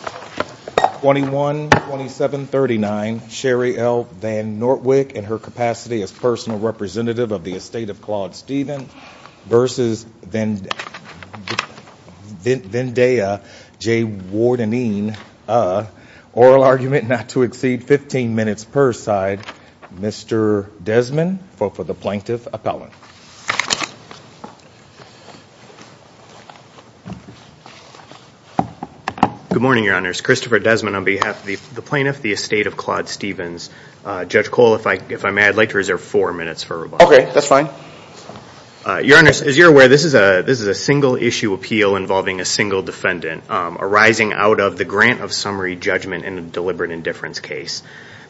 21-2739, Sherry L. VanNortwick in her capacity as personal representative of the estate of Claude Stephen versus Vendaya J. Wardenene, oral argument not to exceed 15 minutes per side. Mr. Desmond, vote for the plaintiff appellant. Good morning, your honors. Christopher Desmond on behalf of the plaintiff, the estate of Claude Stephens. Judge Cole, if I may, I'd like to reserve four minutes for rebuttal. Okay, that's fine. Your honors, as you're aware, this is a single issue appeal involving a single defendant arising out of the grant of summary judgment in a deliberate indifference case.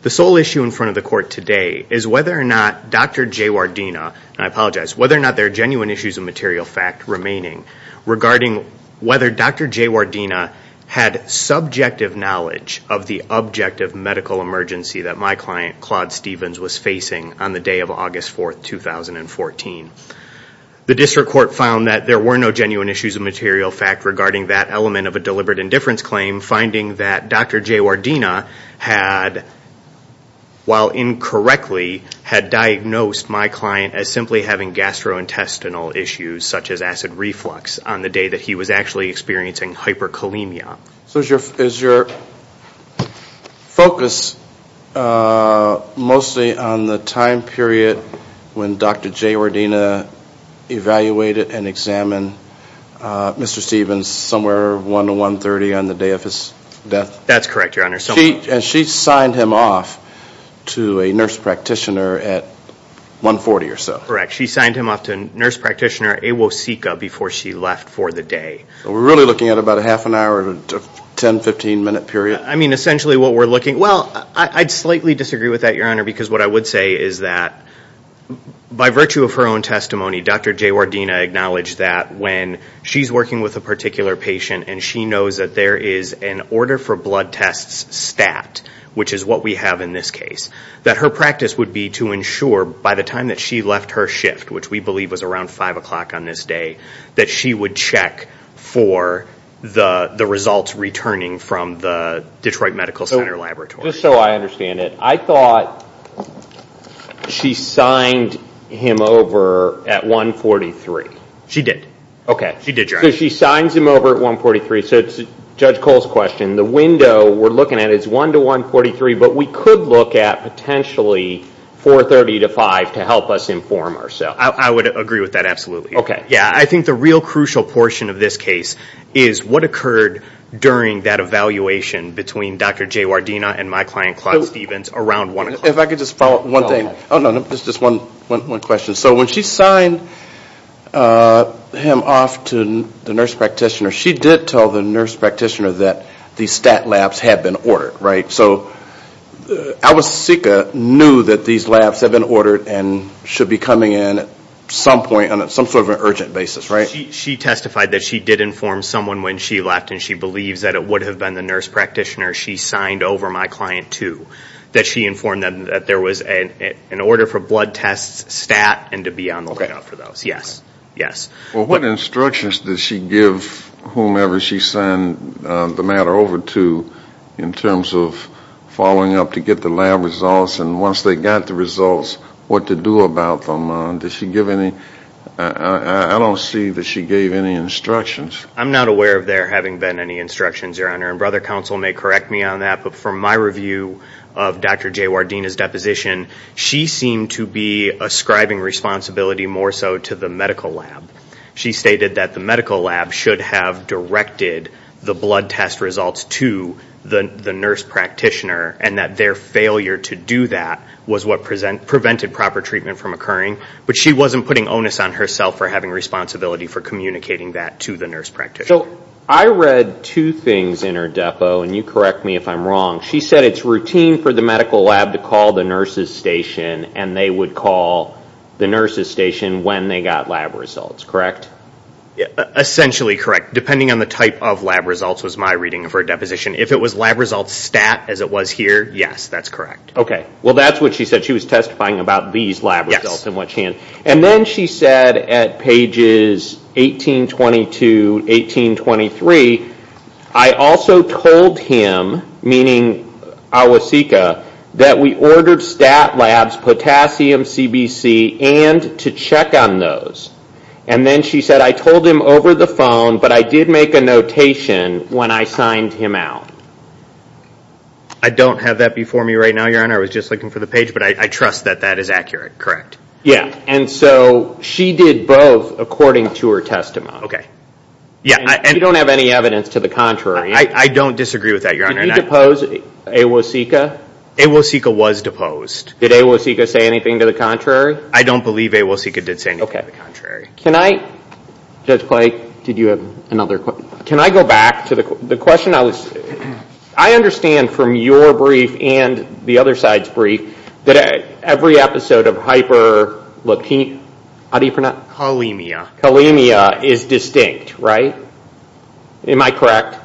The sole issue in front of the court today is whether or not Dr. J. Wardenene, and I apologize, whether or not there are genuine issues of material fact remaining regarding whether Dr. J. Wardenene had subjective knowledge of the objective medical emergency that my client, Claude Stephens, was facing on the day of August 4th, 2014. The district court found that there were no genuine issues of material fact regarding that element of a deliberate indifference claim, finding that Dr. J. Wardenene had, while incorrectly, had diagnosed my client as simply having gastrointestinal issues such as acid reflux on the day that he was actually experiencing hyperkalemia. So is your focus mostly on the time period when Dr. J. Wardenene evaluated and examined Mr. Stephens somewhere 1 to 1.30 on the day of his death? That's correct, your honor. And she signed him off to a nurse practitioner at 1.40 or so? Correct. She signed him off to a nurse practitioner, Awosika, before she left for the day. So we're really looking at about a half an hour to 10, 15 minute period? I mean, essentially what we're looking, well, I'd slightly disagree with that, your honor, because what I would say is that by virtue of her own testimony, Dr. J. Wardenene acknowledged that when she's working with a particular patient and she knows that there is an order for blood tests stat, which is what we have in this case, that her practice would be to ensure by the time that she left her shift, which we believe was around 5 o'clock on this day, that she would check for the results returning from the Detroit Medical Center laboratory. Just so I understand it, I thought she signed him over at 1.43. She did. Okay. She did, your honor. So she signs him over at 1.43. So Judge Cole's question, the window we're looking at is 1 to 1.43, but we could look at potentially 4.30 to 5 to help us inform ourselves. I would agree with that, absolutely. Okay. Yeah, I think the real crucial portion of this case is what occurred during that evaluation between Dr. J. Wardenene and my client, Clark Stevens, around 1 o'clock. If I could just follow up one thing. Oh, no, no. Just one question. So when she signed him off to the nurse practitioner, she did tell the nurse practitioner that the stat labs had been ordered, right? So Alicica knew that these labs had been ordered and should be coming in at some point on some sort of an urgent basis, right? She testified that she did inform someone when she left and she believes that it would have been the nurse practitioner she signed over my client to, that she informed them that there was an order for blood tests, stat, and to be on the lookout for those. Yes. Yes. Well, what instructions did she give whomever she signed the matter over to in terms of following up to get the lab results and once they got the results, what to do about them? Did she give any? I don't see that she gave any instructions. I'm not aware of there having been any instructions, Your Honor, and Brother Counsel may correct me on that, but from my review of Dr. J. Wardena's deposition, she seemed to be ascribing responsibility more so to the medical lab. She stated that the medical lab should have directed the blood test results to the nurse practitioner and that their failure to do that was what prevented proper treatment from occurring, but she wasn't putting onus on herself for having responsibility for communicating that to the nurse practitioner. I read two things in her depo, and you correct me if I'm wrong. She said it's routine for the medical lab to call the nurse's station and they would call the nurse's station when they got lab results, correct? Essentially correct. Depending on the type of lab results was my reading of her deposition. If it was lab results stat, as it was here, yes, that's correct. Okay. Well, that's what she said. She was testifying about these lab results in which hand. Then she said at pages 1822, 1823, I also told him, meaning Awosika, that we ordered stat labs, potassium, CBC, and to check on those. Then she said I told him over the phone, but I did make a notation when I signed him out. I don't have that before me right now, your honor. I was just looking for the page, but I trust that that is accurate, correct? Yeah. And so she did both according to her testimony. Okay. Yeah. You don't have any evidence to the contrary. I don't disagree with that, your honor. Did you depose Awosika? Awosika was deposed. Did Awosika say anything to the contrary? I don't believe Awosika did say anything to the contrary. Can I, Judge Blake, did you have another question? Can I go back to the question I was, I understand from your brief and the other side's brief that every episode of hyper, how do you pronounce it? Colemia. Colemia is distinct, right? Am I correct?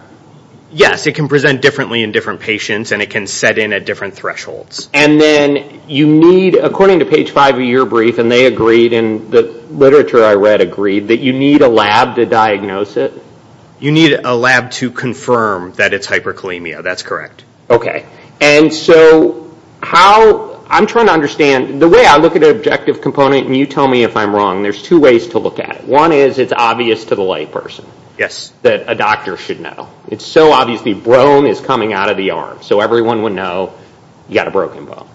Yes. It can present differently in different patients, and it can set in at different thresholds. And then you need, according to page five of your brief, and they agreed, and the literature I read agreed, that you need a lab to diagnose it? You need a lab to confirm that it's hypercolemia. That's correct. Okay. And so how, I'm trying to understand, the way I look at an objective component, and you tell me if I'm wrong, there's two ways to look at it. One is it's obvious to the layperson that a doctor should know. It's so obvious the bone is coming out of the arm. So everyone would know you got a broken bone.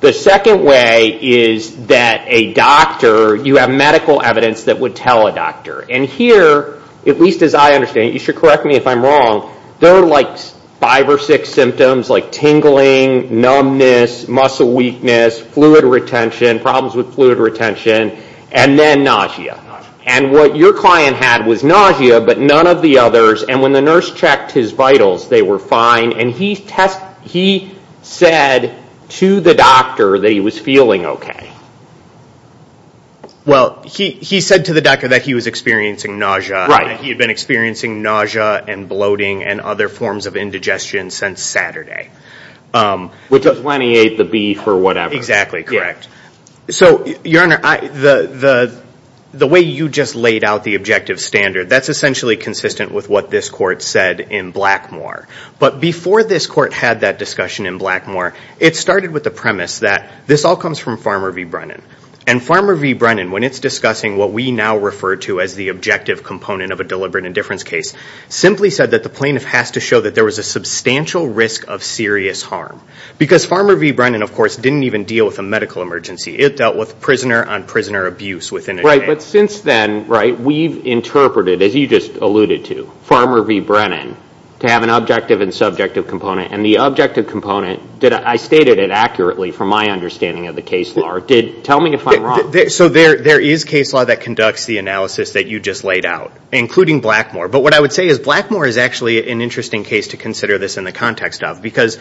The second way is that a doctor, you have medical evidence that would tell a doctor. And here, at least as I understand, you should correct me if I'm wrong, there are like five or six symptoms, like tingling, numbness, muscle weakness, fluid retention, problems with fluid retention, and then nausea. And what your client had was nausea, but none of the others. And when the nurse checked his vitals, they were fine. And he said to the doctor that he was feeling okay. Well, he said to the doctor that he was experiencing nausea, and he had been experiencing nausea and bloating and other forms of indigestion since Saturday. Which is when he ate the beef or whatever. Exactly, correct. So your honor, the way you just laid out the objective standard, that's essentially consistent with what this court said in Blackmoor. But before this court had that discussion in Blackmoor, it started with the premise that this all comes from Farmer v. Brennan. And Farmer v. Brennan, when it's discussing what we now refer to as the objective component of a deliberate indifference case, simply said that the plaintiff has to show that there was a substantial risk of serious harm. Because Farmer v. Brennan, of course, didn't even deal with a medical emergency. It dealt with prisoner on prisoner abuse within a day. Right, but since then, right, we've interpreted, as you just alluded to, Farmer v. Brennan to have an objective and subjective component. And the objective component, I stated it accurately from my understanding of the case law. Tell me if I'm wrong. So there is case law that conducts the analysis that you just laid out, including Blackmoor. But what I would say is Blackmoor is actually an interesting case to consider this in the context of. Because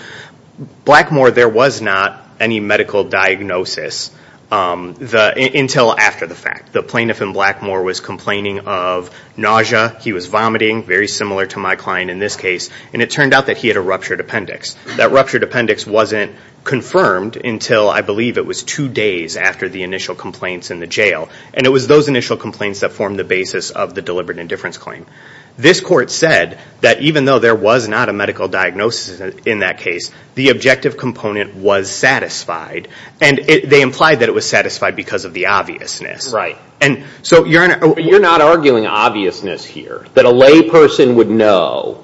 Blackmoor, there was not any medical diagnosis until after the fact. The plaintiff in Blackmoor was complaining of nausea. He was vomiting, very similar to my client in this case. And it turned out that he had a ruptured appendix. That ruptured appendix wasn't confirmed until, I believe, it was two days after the initial complaints in the jail. And it was those initial complaints that formed the basis of the deliberate indifference claim. This court said that even though there was not a medical diagnosis in that case, the objective component was satisfied. And they implied that it was satisfied because of the obviousness. Right. And so you're not arguing obviousness here, that a lay person would know.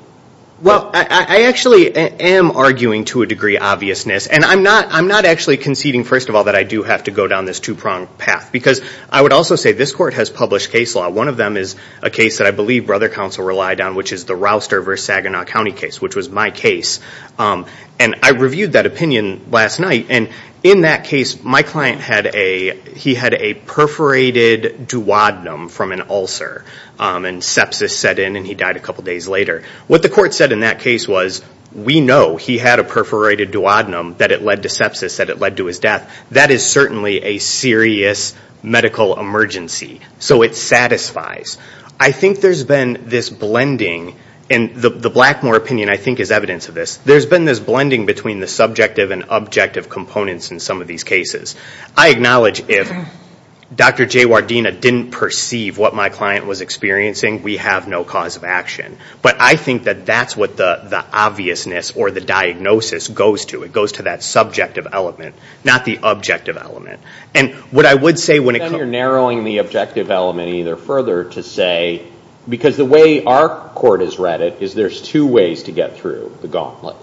Well, I actually am arguing, to a degree, obviousness. And I'm not actually conceding, first of all, that I do have to go down this two-pronged path. Because I would also say this court has published case law. One of them is a case that I believe Brother Counsel relied on, which is the Rouster v. Saginaw County case, which was my case. And I reviewed that opinion last night. And in that case, my client had a perforated duodenum from an ulcer. And sepsis set in, and he died a couple days later. What the court said in that case was, we know he had a perforated duodenum, that it led to sepsis, that it led to his death. That is certainly a serious medical emergency. So it satisfies. I think there's been this blending. And the Blackmore opinion, I think, is evidence of this. There's been this blending between the subjective and objective components in some of these cases. I acknowledge if Dr. J. Wardena didn't perceive what my client was experiencing, we have no cause of action. But I think that that's what the obviousness or the diagnosis goes to. It goes to that subjective element, not the objective element. And what I would say when it comes to... So you're narrowing the objective element either further to say, because the way our court has read it, is there's two ways to get through the gauntlet.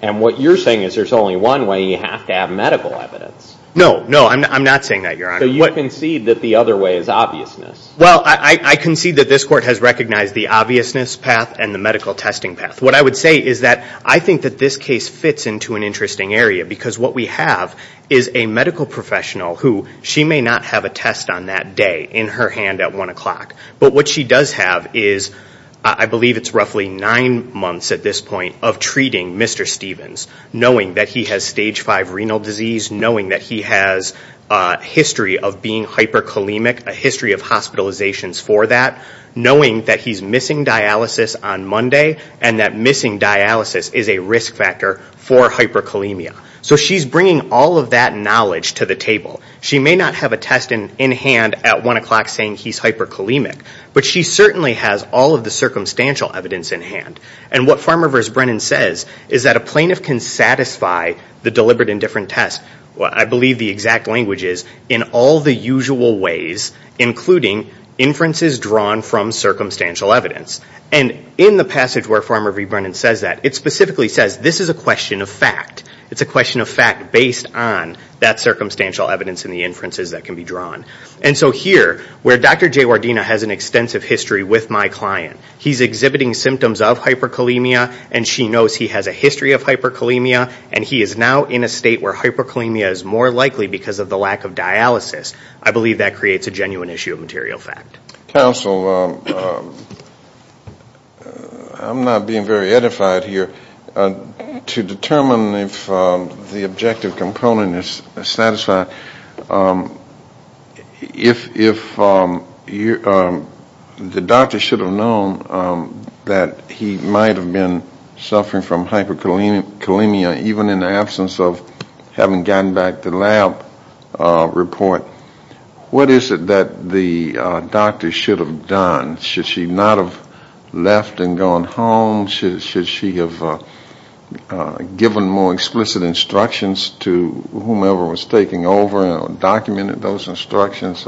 And what you're saying is there's only one way, you have to have medical evidence. No, no. I'm not saying that, Your Honor. So you concede that the other way is obviousness? Well, I concede that this court has recognized the obviousness path and the medical testing path. What I would say is that I think that this case fits into an interesting area, because what we have is a medical professional who, she may not have a test on that day, in her hand at 1 o'clock. But what she does have is, I believe it's roughly nine months at this point, of treating Mr. Stevens, knowing that he has stage five renal disease, knowing that he has a history of being hyperkalemic, a history of hospitalizations for that, knowing that he's missing dialysis on Monday, and that missing dialysis is a risk factor for hyperkalemia. So she's bringing all of that knowledge to the table. She may not have a test in hand at 1 o'clock saying he's hyperkalemic, but she certainly has all of the circumstantial evidence in hand. And what Farmer v. Brennan says is that a plaintiff can satisfy the deliberate indifferent test, I believe the exact language is, in all the usual ways, including inferences drawn from circumstantial evidence. And in the passage where Farmer v. Brennan says that, it specifically says this is a question of fact. It's a question of fact based on that circumstantial evidence and the inferences that can be drawn. And so here, where Dr. Jaywardena has an extensive history with my client, he's exhibiting symptoms of hyperkalemia, and she knows he has a history of hyperkalemia, and he is now in a state where hyperkalemia is more likely because of the lack of dialysis. I believe that creates a genuine issue of material fact. Counsel, I'm not being very edified here. To determine if the objective component is satisfied, if the doctor should have known that he might have been suffering from hyperkalemia even in the absence of having gotten back the lab report, what is it that the doctor should have done? Should she not have left and gone home? Should she have given more explicit instructions to whomever was taking over and documented those instructions?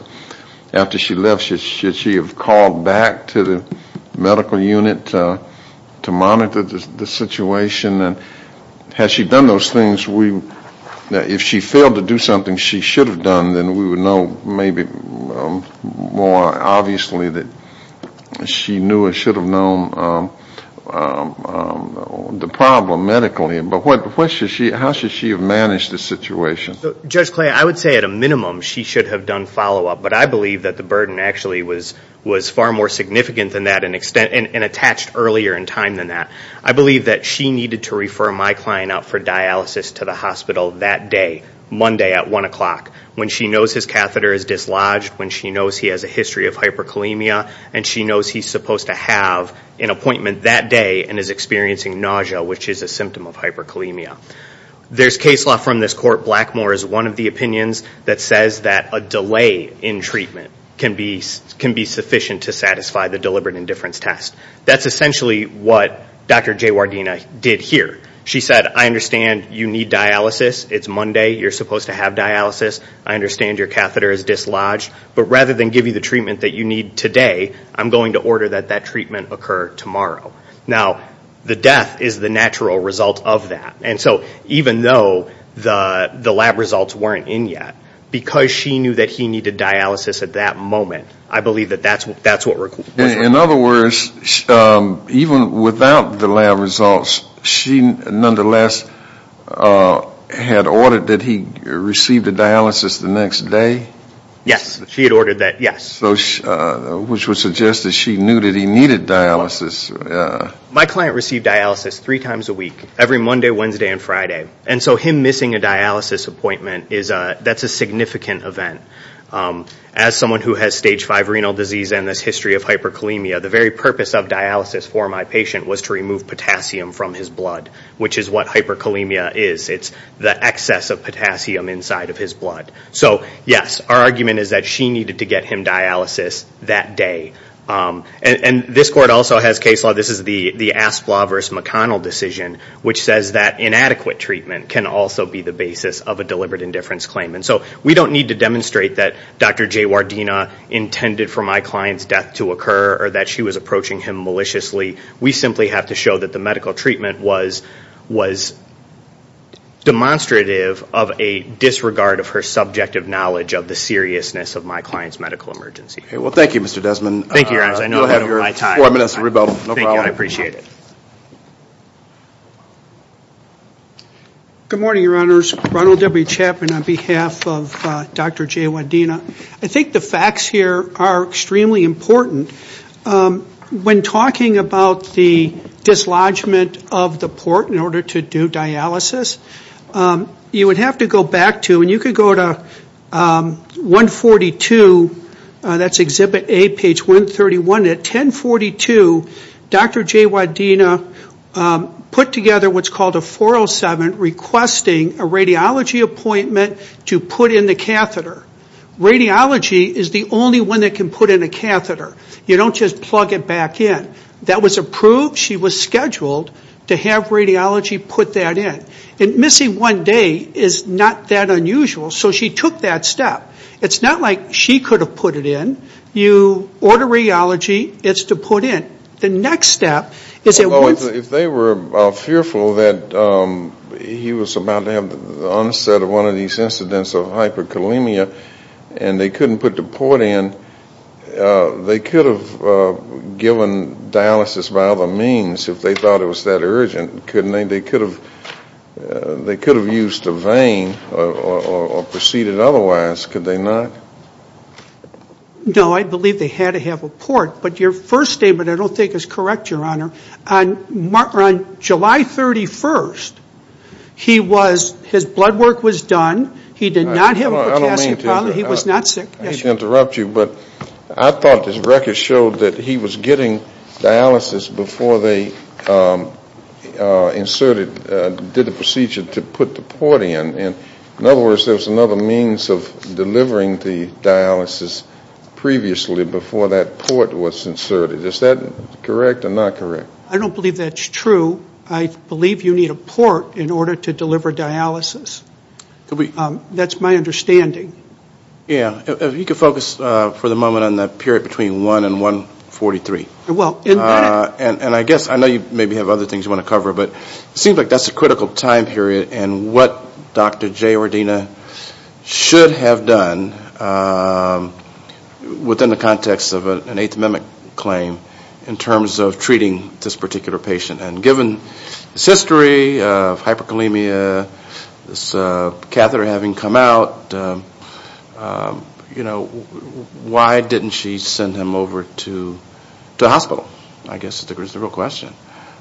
After she left, should she have called back to the medical unit to monitor the situation? And has she done those things? If she failed to do something she should have done, then we would know maybe more obviously that she knew or should have known the problem medically. But how should she have managed the situation? Judge Clay, I would say at a minimum she should have done follow-up, but I believe that the burden actually was far more significant than that and attached earlier in time than that. I believe that she needed to refer my client out for dialysis to the hospital that day, Monday at 1 o'clock, when she knows his catheter is dislodged, when she knows he has a history of hyperkalemia, and she knows he's supposed to have an appointment that day and is experiencing nausea, which is a symptom of hyperkalemia. There's case law from this court, Blackmore is one of the opinions that says that a delay in treatment can be sufficient to satisfy the deliberate indifference test. That's essentially what Dr. Jaywardena did here. She said, I understand you need dialysis, it's Monday, you're supposed to have dialysis, I understand your catheter is dislodged, but rather than give you the treatment that you need today, I'm going to order that that treatment occur tomorrow. Now, the death is the natural result of that. And so, even though the lab results weren't in yet, because she knew that he needed dialysis at that moment, I believe that that's what required. In other words, even without the lab results, she nonetheless had ordered that he receive the dialysis the next day? Yes, she had ordered that, yes. So, which would suggest that she knew that he needed dialysis. My client received dialysis three times a week, every Monday, Wednesday, and Friday. And so, him missing a dialysis appointment is a, that's a significant event. As someone who has stage 5 renal disease and this history of hyperkalemia, the very purpose of dialysis for my patient was to remove potassium from his blood, which is what hyperkalemia is. It's the excess of potassium inside of his blood. So, yes, our argument is that she needed to get him dialysis that day. And this court also has case law, this is the Asplaw v. McConnell decision, which says that inadequate treatment can also be the basis of a deliberate indifference claim. And so, we don't need to demonstrate that Dr. Jaywardena intended for my client's death to occur or that she was approaching him maliciously. We simply have to show that the medical treatment was demonstrative of a disregard of her subjective knowledge of the seriousness of my client's medical emergency. Okay. Well, thank you, Mr. Desmond. Thank you, Your Honors. I know I don't have my time. You'll have your four minutes to rebuttal. No problem. Thank you. I appreciate it. Good morning, Your Honors. Ronald W. Chapman on behalf of Dr. Jaywardena. I think the facts here are extremely important. When talking about the dislodgement of the port in order to do dialysis, you would have to go back to, and you could go to 142, that's Exhibit A, page 131. At 1042, Dr. Jaywardena put together what's called a 407 requesting a radiology appointment to put in the catheter. Radiology is the only one that can put in a catheter. You don't just plug it back in. That was approved. She was scheduled to have radiology put that in. And missing one day is not that unusual, so she took that step. It's not like she could have put it in. You order radiology. It's to put in. The next step is that once... If they were fearful that he was about to have the onset of one of these incidents of hyperkalemia and they couldn't put the port in, they could have given dialysis by other means if they thought it was that urgent, couldn't they? They could have used a vein or proceeded otherwise, could they not? No, I believe they had to have a port. But your first statement I don't think is correct, Your Honor. On July 31st, his blood work was done. He did not have a potassium problem. He was not sick. I should interrupt you, but I thought this record showed that he was getting dialysis before they inserted, did the procedure to put the port in. In other words, there was another means of delivering the dialysis previously before that port was inserted. Is that correct or not correct? I don't believe that's true. I believe you need a port in order to deliver dialysis. That's my understanding. Yeah, if you could focus for the moment on that period between 1 and 143. Well, in that... And I guess, I know you maybe have other things you want to cover, but it seems like that's a critical time period and what Dr. J. Ordina should have done within the context of an Eighth Amendment claim in terms of treating this particular patient. And given his history of hyperkalemia, this catheter having come out, why didn't she send him over to the hospital? I guess that's the real question.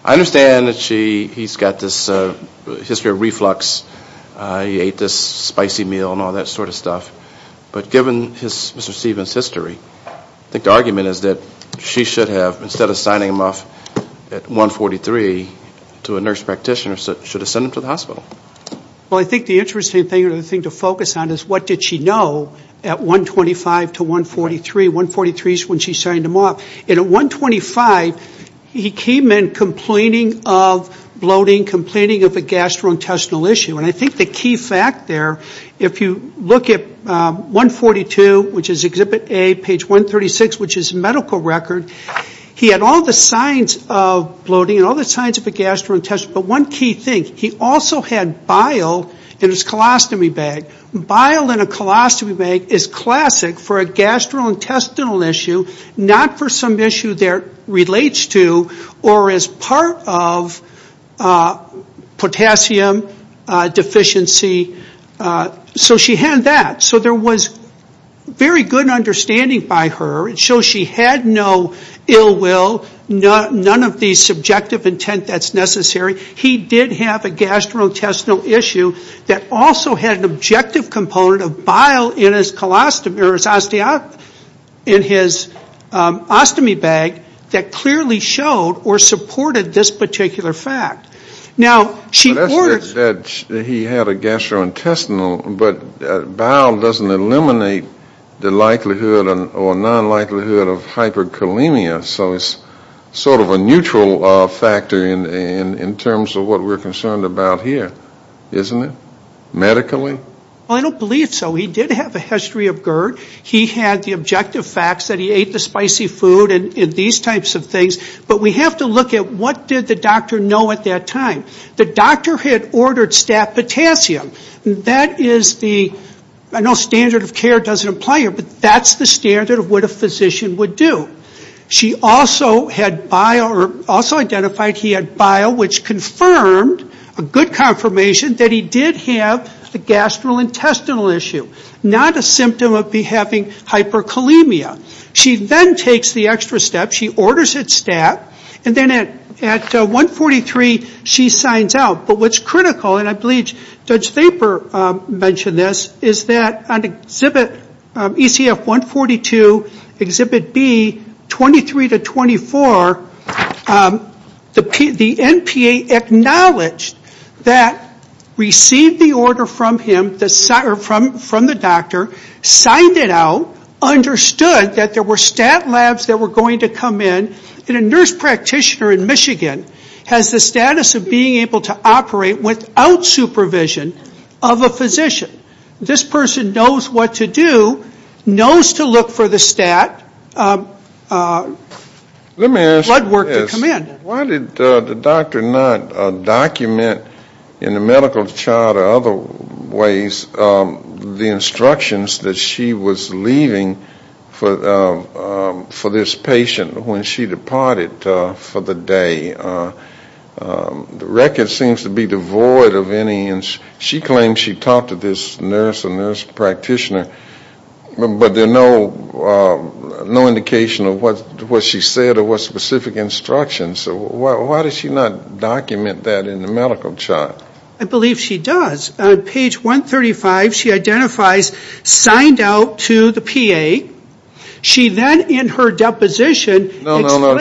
I understand that he's got this history of reflux, he ate this spicy meal and all that sort of stuff. But given Mr. Stevens' history, I think the argument is that she should have, instead of signing him off at 143, to a nurse practitioner, should have sent him to the hospital. Well, I think the interesting thing to focus on is what did she know at 125 to 143? 143 is when she signed him off. And at 125, he came in complaining of bloating, complaining of a gastrointestinal issue. And I think the key fact there, if you look at 142, which is Exhibit A, page 136, which is medical record, he had all the signs of bloating and all the signs of a gastrointestinal issue. But one key thing, he also had bile in his colostomy bag. Bile in a colostomy bag is classic for a gastrointestinal issue, not for some issue that relates to or is part of potassium deficiency. So she had that. So there was very good understanding by her. It shows she had no ill will, none of the subjective intent that's necessary. He did have a gastrointestinal issue that also had an objective component of bile in his colostomy, or his osteopathy, in his ostomy bag that clearly showed or supported this particular fact. Now, she ordered- In terms of what we're concerned about here, isn't it? Medically? Well, I don't believe so. He did have a history of GERD. He had the objective facts that he ate the spicy food and these types of things. But we have to look at what did the doctor know at that time. The doctor had ordered staph potassium. That is the- I know standard of care doesn't apply here, but that's the standard of what a physician would do. She also had bile, or also identified he had bile, which confirmed, a good confirmation, that he did have a gastrointestinal issue, not a symptom of having hyperkalemia. She then takes the extra step. She orders his staph, and then at 143, she signs out. But what's critical, and I believe Judge Thaper mentioned this, is that on exhibit ECF 142, exhibit B, 23 to 24, the NPA acknowledged that received the order from him, or from the doctor, signed it out, understood that there were stat labs that were going to come in. And a nurse practitioner in Michigan has the status of being able to operate without supervision of a physician. This person knows what to do, knows to look for the stat, blood work to come in. Why did the doctor not document in the medical chart or other ways the instructions that she was leaving for this patient when she departed for the day? The record seems to be devoid of any- she claimed she talked to this nurse or nurse practitioner, but there's no indication of what she said or what specific instructions. So why does she not document that in the medical chart? I believe she does. On page 135, she identifies signed out to the PA. She then, in her deposition, explains- Well, your honor, I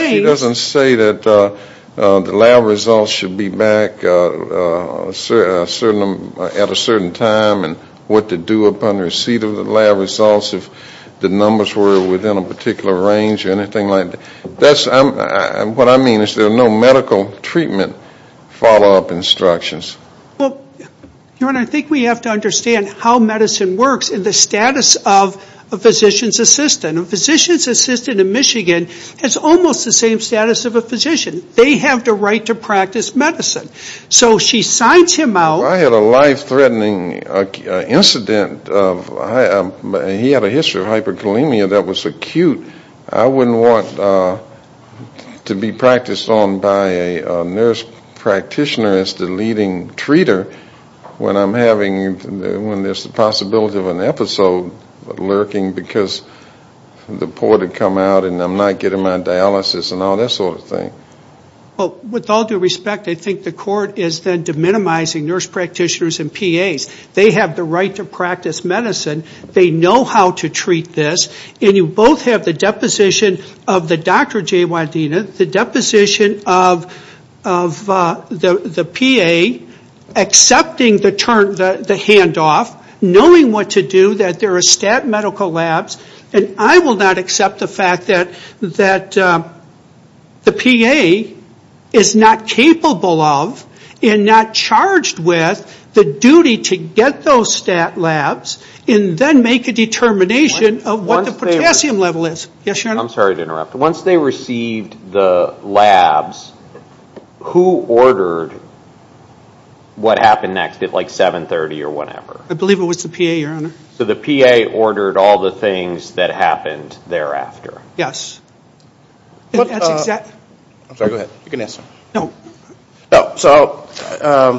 think we have to understand how medicine works and the status of a physician's assistant. A physician's assistant in Michigan has almost the same status of a physician. They have the right to practice medicine. So she signs him out- I had a life-threatening incident of- I had a life-threatening incident of a physician's assistant. He had a history of hyperkalemia that was acute. I wouldn't want to be practiced on by a nurse practitioner as the leading treater when I'm having- when there's the possibility of an episode lurking because the poor had come out and I'm not getting my dialysis and all that sort of thing. Well, with all due respect, I think the court is then deminimizing nurse practitioners and PAs. They have the right to practice medicine. They know how to treat this. And you both have the deposition of the Dr. J. Wadena, the deposition of the PA accepting the handoff, knowing what to do, that there are stat medical labs. And I will not accept the fact that the PA is not capable of and not charged with the duty to get those stat labs and then make a determination of what the potassium level is. Yes, Your Honor? I'm sorry to interrupt. Once they received the labs, who ordered what happened next at like 7.30 or whatever? I believe it was the PA, Your Honor. So the PA ordered all the things that happened thereafter? Yes. I'm sorry, go ahead. You can answer. No. So I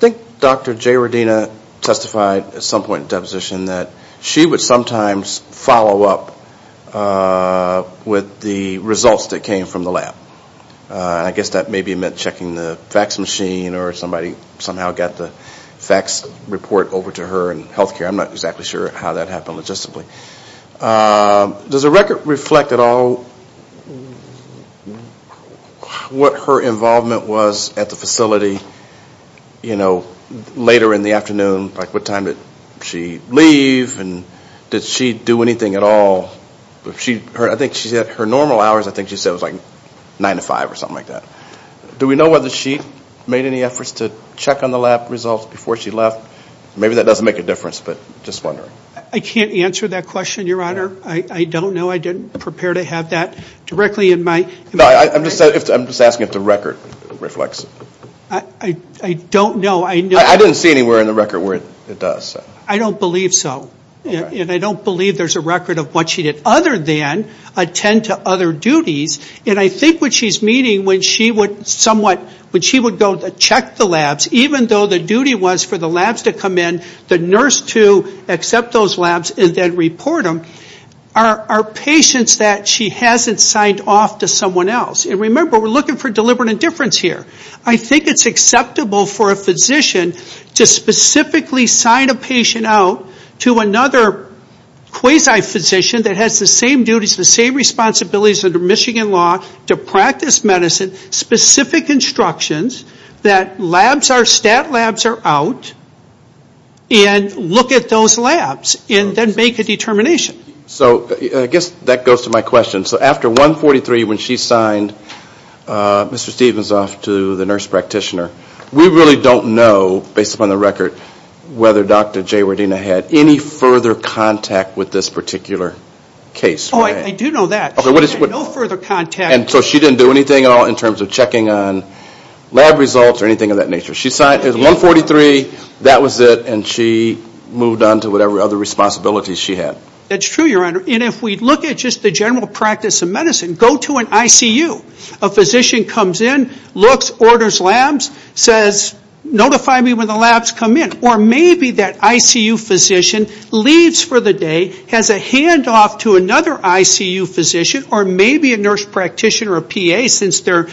think Dr. J. Wadena testified at some point in deposition that she would sometimes follow up with the results that came from the lab. I guess that maybe meant checking the fax machine or somebody somehow got the fax report over to her in healthcare. I'm not exactly sure how that happened logistically. Does the record reflect at all what her involvement was at the facility, you know, later in the afternoon? Like what time did she leave and did she do anything at all? I think her normal hours, I think she said was like 9 to 5 or something like that. Do we know whether she made any efforts to check on the lab results before she left? Maybe that doesn't make a difference, but just wondering. I can't answer that question, Your Honor. I don't know. I didn't prepare to have that directly in my... No, I'm just asking if the record reflects. I don't know. I didn't see anywhere in the record where it does. I don't believe so. And I don't believe there's a record of what she did. Other than attend to other duties. And I think what she's meaning when she would somewhat, when she would go to check the labs, even though the duty was for the labs to come in, the nurse to accept those labs and then report them, are patients that she hasn't signed off to someone else. And remember, we're looking for deliberate indifference here. I think it's acceptable for a physician to specifically sign a patient out to another quasi-physician that has the same duties, the same responsibilities under Michigan law to practice medicine, specific instructions that labs are, stat labs are out and look at those labs and then make a determination. So I guess that goes to my question. So after 143, when she signed Mr. Stephens off to the nurse practitioner, we really don't know, based upon the record, whether Dr. Jaywardena had any further contact with this particular case. Oh, I do know that. She had no further contact. And so she didn't do anything at all in terms of checking on lab results or anything of that nature. She signed, it was 143, that was it, and she moved on to whatever other responsibilities she had. That's true, Your Honor. And if we look at just the general practice of medicine, go to an ICU. A physician comes in, looks, orders labs, says, notify me when the labs come in. Or maybe that ICU physician leaves for the day, has a handoff to another ICU physician, or maybe a nurse practitioner, a PA, since they're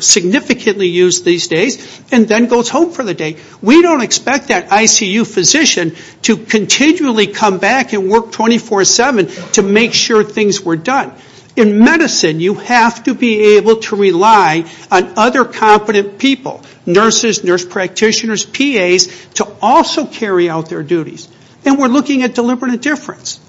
significantly used these days, and then goes home for the day. We don't expect that ICU physician to continually come back and work 24-7 to make sure things were done. In medicine, you have to be able to rely on other competent people, nurses, nurse practitioners, PAs, to also carry out their duties. And we're looking at deliberate indifference.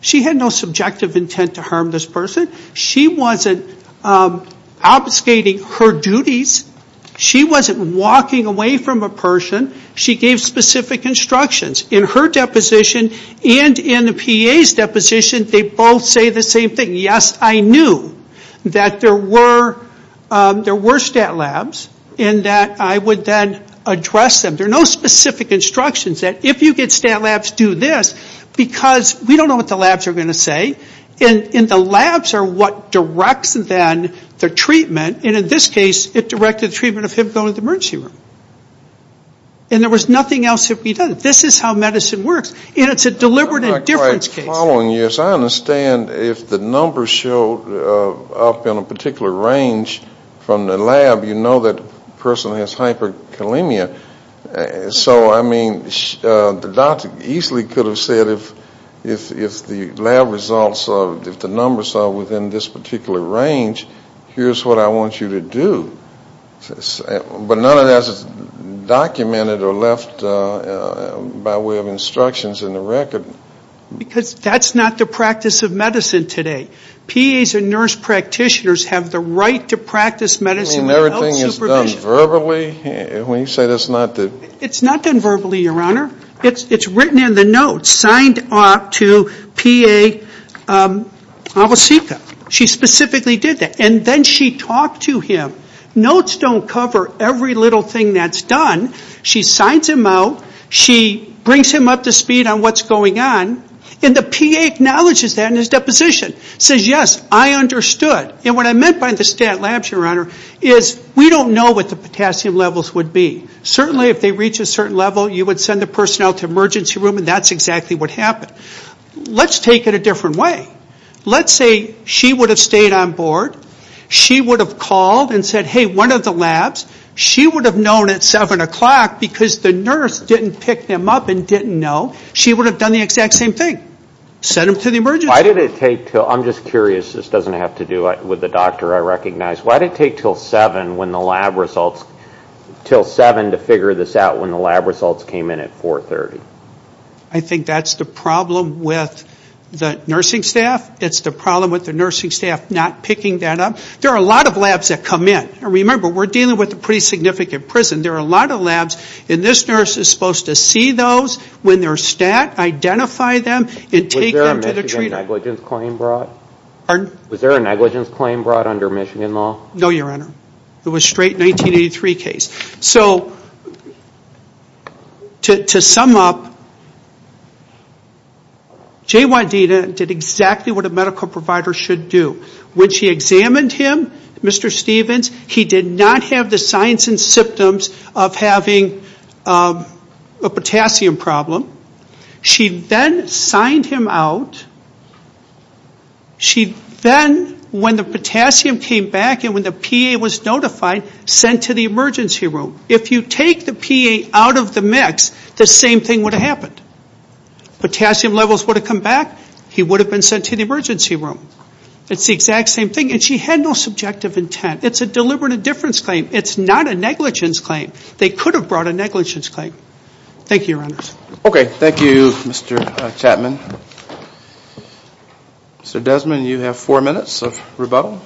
She had no subjective intent to harm this person. She wasn't obfuscating her duties. She wasn't walking away from a person. She gave specific instructions. In her deposition and in the PA's deposition, they both say the same thing. Yes, I knew that there were stat labs, and that I would then address them. There are no specific instructions that if you get stat labs, do this, because we don't know what the labs are going to say. And the labs are what directs then the treatment. And in this case, it directed the treatment of him going to the emergency room. And there was nothing else to be done. This is how medicine works. And it's a deliberate indifference case. In the following years, I understand if the numbers show up in a particular range from the lab, you know that the person has hyperkalemia. So, I mean, the doctor easily could have said if the lab results, if the numbers are within this particular range, here's what I want you to do. But none of that is documented or left by way of instructions in the record. Because that's not the practice of medicine today. PAs and nurse practitioners have the right to practice medicine without supervision. You mean everything is done verbally? When you say that's not the... It's not done verbally, Your Honor. It's written in the notes, signed off to PA Awosika. She specifically did that. And then she talked to him. Notes don't cover every little thing that's done. She signs him out. She brings him up to speed on what's going on. And the PA acknowledges that in his deposition. Says, yes, I understood. And what I meant by the stat labs, Your Honor, is we don't know what the potassium levels would be. Certainly, if they reach a certain level, you would send the personnel to emergency room, and that's exactly what happened. Let's take it a different way. Let's say she would have stayed on board. She would have called and said, hey, one of the labs, she would have known at 7 o'clock because the nurse didn't pick them up and didn't know. She would have done the exact same thing. Sent them to the emergency. Why did it take till... I'm just curious. This doesn't have to do with the doctor I recognize. Why did it take till 7 when the lab results... Till 7 to figure this out when the lab results came in at 4.30? I think that's the problem with the nursing staff. It's the problem with the nursing staff not picking that up. There are a lot of labs that come in. Remember, we're dealing with a pretty significant prison. There are a lot of labs, and this nurse is supposed to see those, when they're stat, identify them, and take them to the treator. Was there a negligence claim brought under Michigan law? No, Your Honor. It was straight 1983 case. So, to sum up, J.Y.D. did exactly what a medical provider should do. When she examined him, Mr. Stevens, he did not have the signs and symptoms of having a potassium problem. She then signed him out. She then, when the potassium came back, and when the PA was notified, sent to the emergency room. If you take the PA out of the mix, the same thing would have happened. Potassium levels would have come back. He would have been sent to the emergency room. It's the exact same thing, and she had no subjective intent. It's a deliberate indifference claim. It's not a negligence claim. They could have brought a negligence claim. Thank you, Your Honor. Okay, thank you, Mr. Chapman. Mr. Desmond, you have four minutes of rebuttal.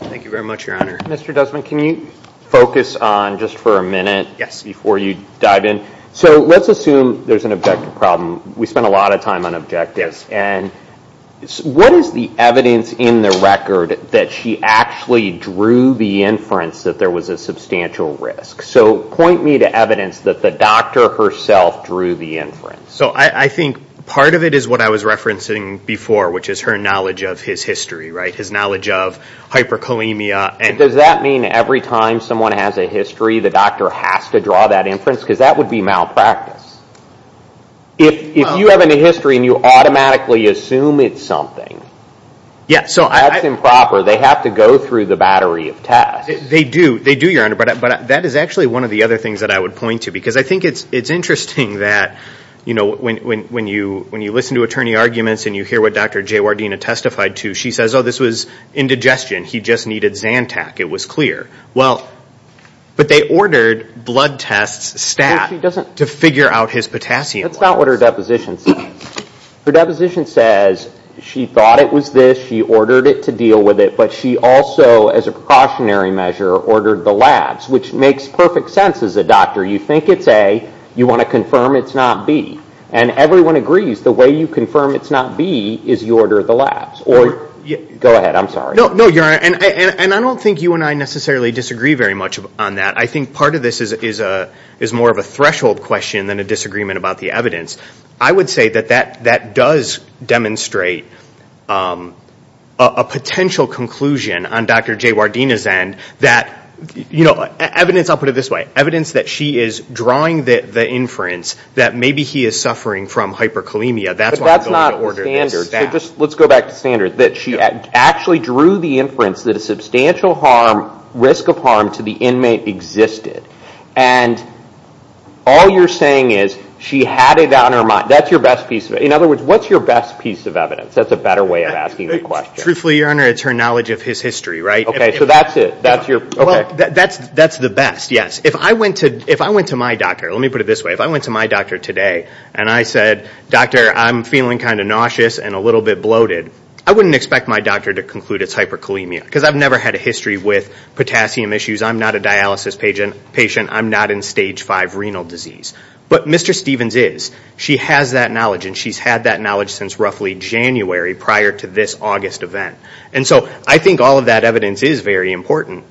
Thank you very much, Your Honor. Mr. Desmond, can you focus on, just for a minute, before you dive in? So, let's assume there's an objective problem. We spent a lot of time on objectives. What is the evidence in the record that she actually drew the inference that there was a substantial risk? So, point me to evidence that the doctor herself drew the inference. So, I think part of it is what I was referencing before, which is her knowledge of his history, right? His knowledge of hyperkalemia. Does that mean every time someone has a history, the doctor has to draw that inference? Because that would be malpractice. If you have a history and you automatically assume it's something, that's improper. They have to go through the battery of tests. They do, Your Honor, but that is actually one of the other things that I would point to, because I think it's interesting that, you know, when you listen to attorney arguments and you hear what Dr. J. Wardena testified to, she says, oh, this was indigestion. He just needed Zantac. It was clear. But they ordered blood tests, stat, to figure out his potassium levels. That's not what her deposition says. Her deposition says she thought it was this. She ordered it to deal with it, but she also, as a precautionary measure, ordered the labs, which makes perfect sense as a doctor. You think it's A. You want to confirm it's not B. And everyone agrees the way you confirm it's not B is you order the labs. Go ahead. I'm sorry. No, Your Honor, and I don't think you and I necessarily disagree very much on that. I think part of this is more of a threshold question than a disagreement about the evidence. I would say that that does demonstrate a potential conclusion on Dr. J. Wardena's end that, you know, evidence, I'll put it this way, evidence that she is drawing the inference that maybe he is suffering from hyperkalemia. That's why I'm going to order this. But that's not standard. Let's go back to standard. That she actually drew the inference that a substantial harm, risk of harm to the inmate existed. And all you're saying is she had it on her mind. That's your best piece of evidence. In other words, what's your best piece of evidence? That's a better way of asking the question. Truthfully, Your Honor, it's her knowledge of his history, right? Okay, so that's it. That's the best, yes. If I went to my doctor, let me put it this way. If I went to my doctor today and I said, Doctor, I'm feeling kind of nauseous and a little bit bloated, I wouldn't expect my doctor to conclude it's hyperkalemia because I've never had a history with potassium issues. I'm not a dialysis patient. I'm not in Stage 5 renal disease. But Mr. Stevens is. She has that knowledge, and she's had that knowledge since roughly January prior to this August event. And so I think all of that evidence is very important.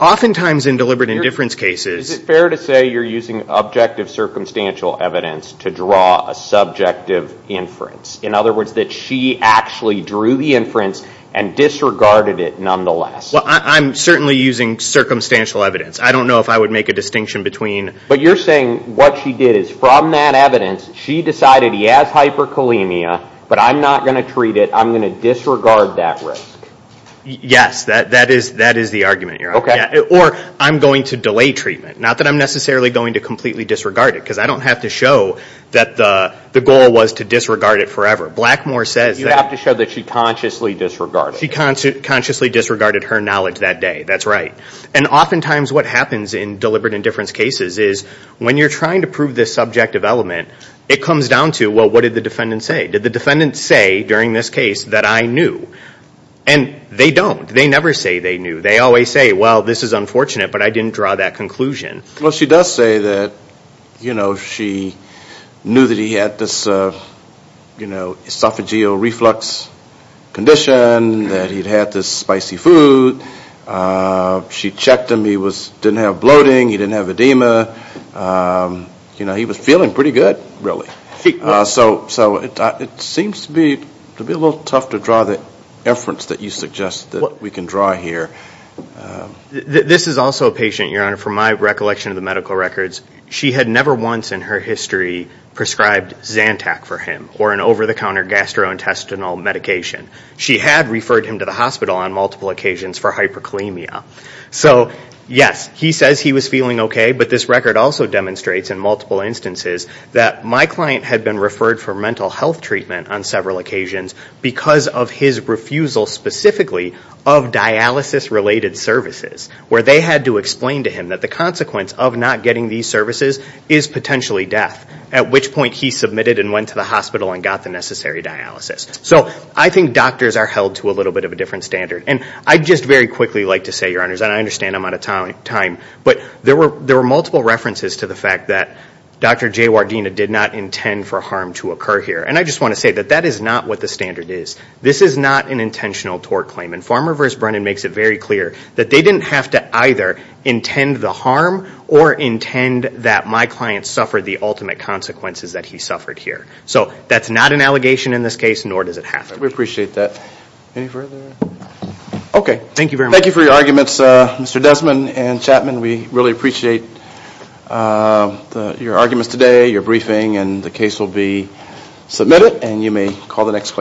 Oftentimes in deliberate indifference cases ---- to draw a subjective inference. In other words, that she actually drew the inference and disregarded it nonetheless. Well, I'm certainly using circumstantial evidence. I don't know if I would make a distinction between ---- But you're saying what she did is from that evidence, she decided he has hyperkalemia, but I'm not going to treat it. I'm going to disregard that risk. Yes, that is the argument, Your Honor. Or I'm going to delay treatment. Not that I'm necessarily going to completely disregard it because I don't have to show that the goal was to disregard it forever. Blackmore says that ---- You have to show that she consciously disregarded it. She consciously disregarded her knowledge that day. That's right. And oftentimes what happens in deliberate indifference cases is when you're trying to prove this subjective element, it comes down to, well, what did the defendant say? Did the defendant say during this case that I knew? And they don't. They never say they knew. They always say, well, this is unfortunate, but I didn't draw that conclusion. Well, she does say that, you know, she knew that he had this, you know, esophageal reflux condition, that he'd had this spicy food. She checked him. He didn't have bloating. He didn't have edema. You know, he was feeling pretty good, really. So it seems to be a little tough to draw the inference that you suggest that we can draw here. This is also a patient, Your Honor, from my recollection of the medical records. She had never once in her history prescribed Zantac for him or an over-the-counter gastrointestinal medication. She had referred him to the hospital on multiple occasions for hyperkalemia. So, yes, he says he was feeling okay, but this record also demonstrates in multiple instances that my client had been referred for mental health treatment on several occasions because of his refusal specifically of dialysis-related services where they had to explain to him that the consequence of not getting these services is potentially death, at which point he submitted and went to the hospital and got the necessary dialysis. So I think doctors are held to a little bit of a different standard. And I'd just very quickly like to say, Your Honors, and I understand I'm out of time, but there were multiple references to the fact that Dr. Jaywardena did not intend for harm to occur here. And I just want to say that that is not what the standard is. This is not an intentional tort claim. And Farmer v. Brennan makes it very clear that they didn't have to either intend the harm or intend that my client suffered the ultimate consequences that he suffered here. So that's not an allegation in this case, nor does it have to be. We appreciate that. Any further? Okay. Thank you very much. Thank you for your arguments, Mr. Desmond and Chapman. We really appreciate your arguments today, your briefing, and the case will be submitted. And you may call the next question.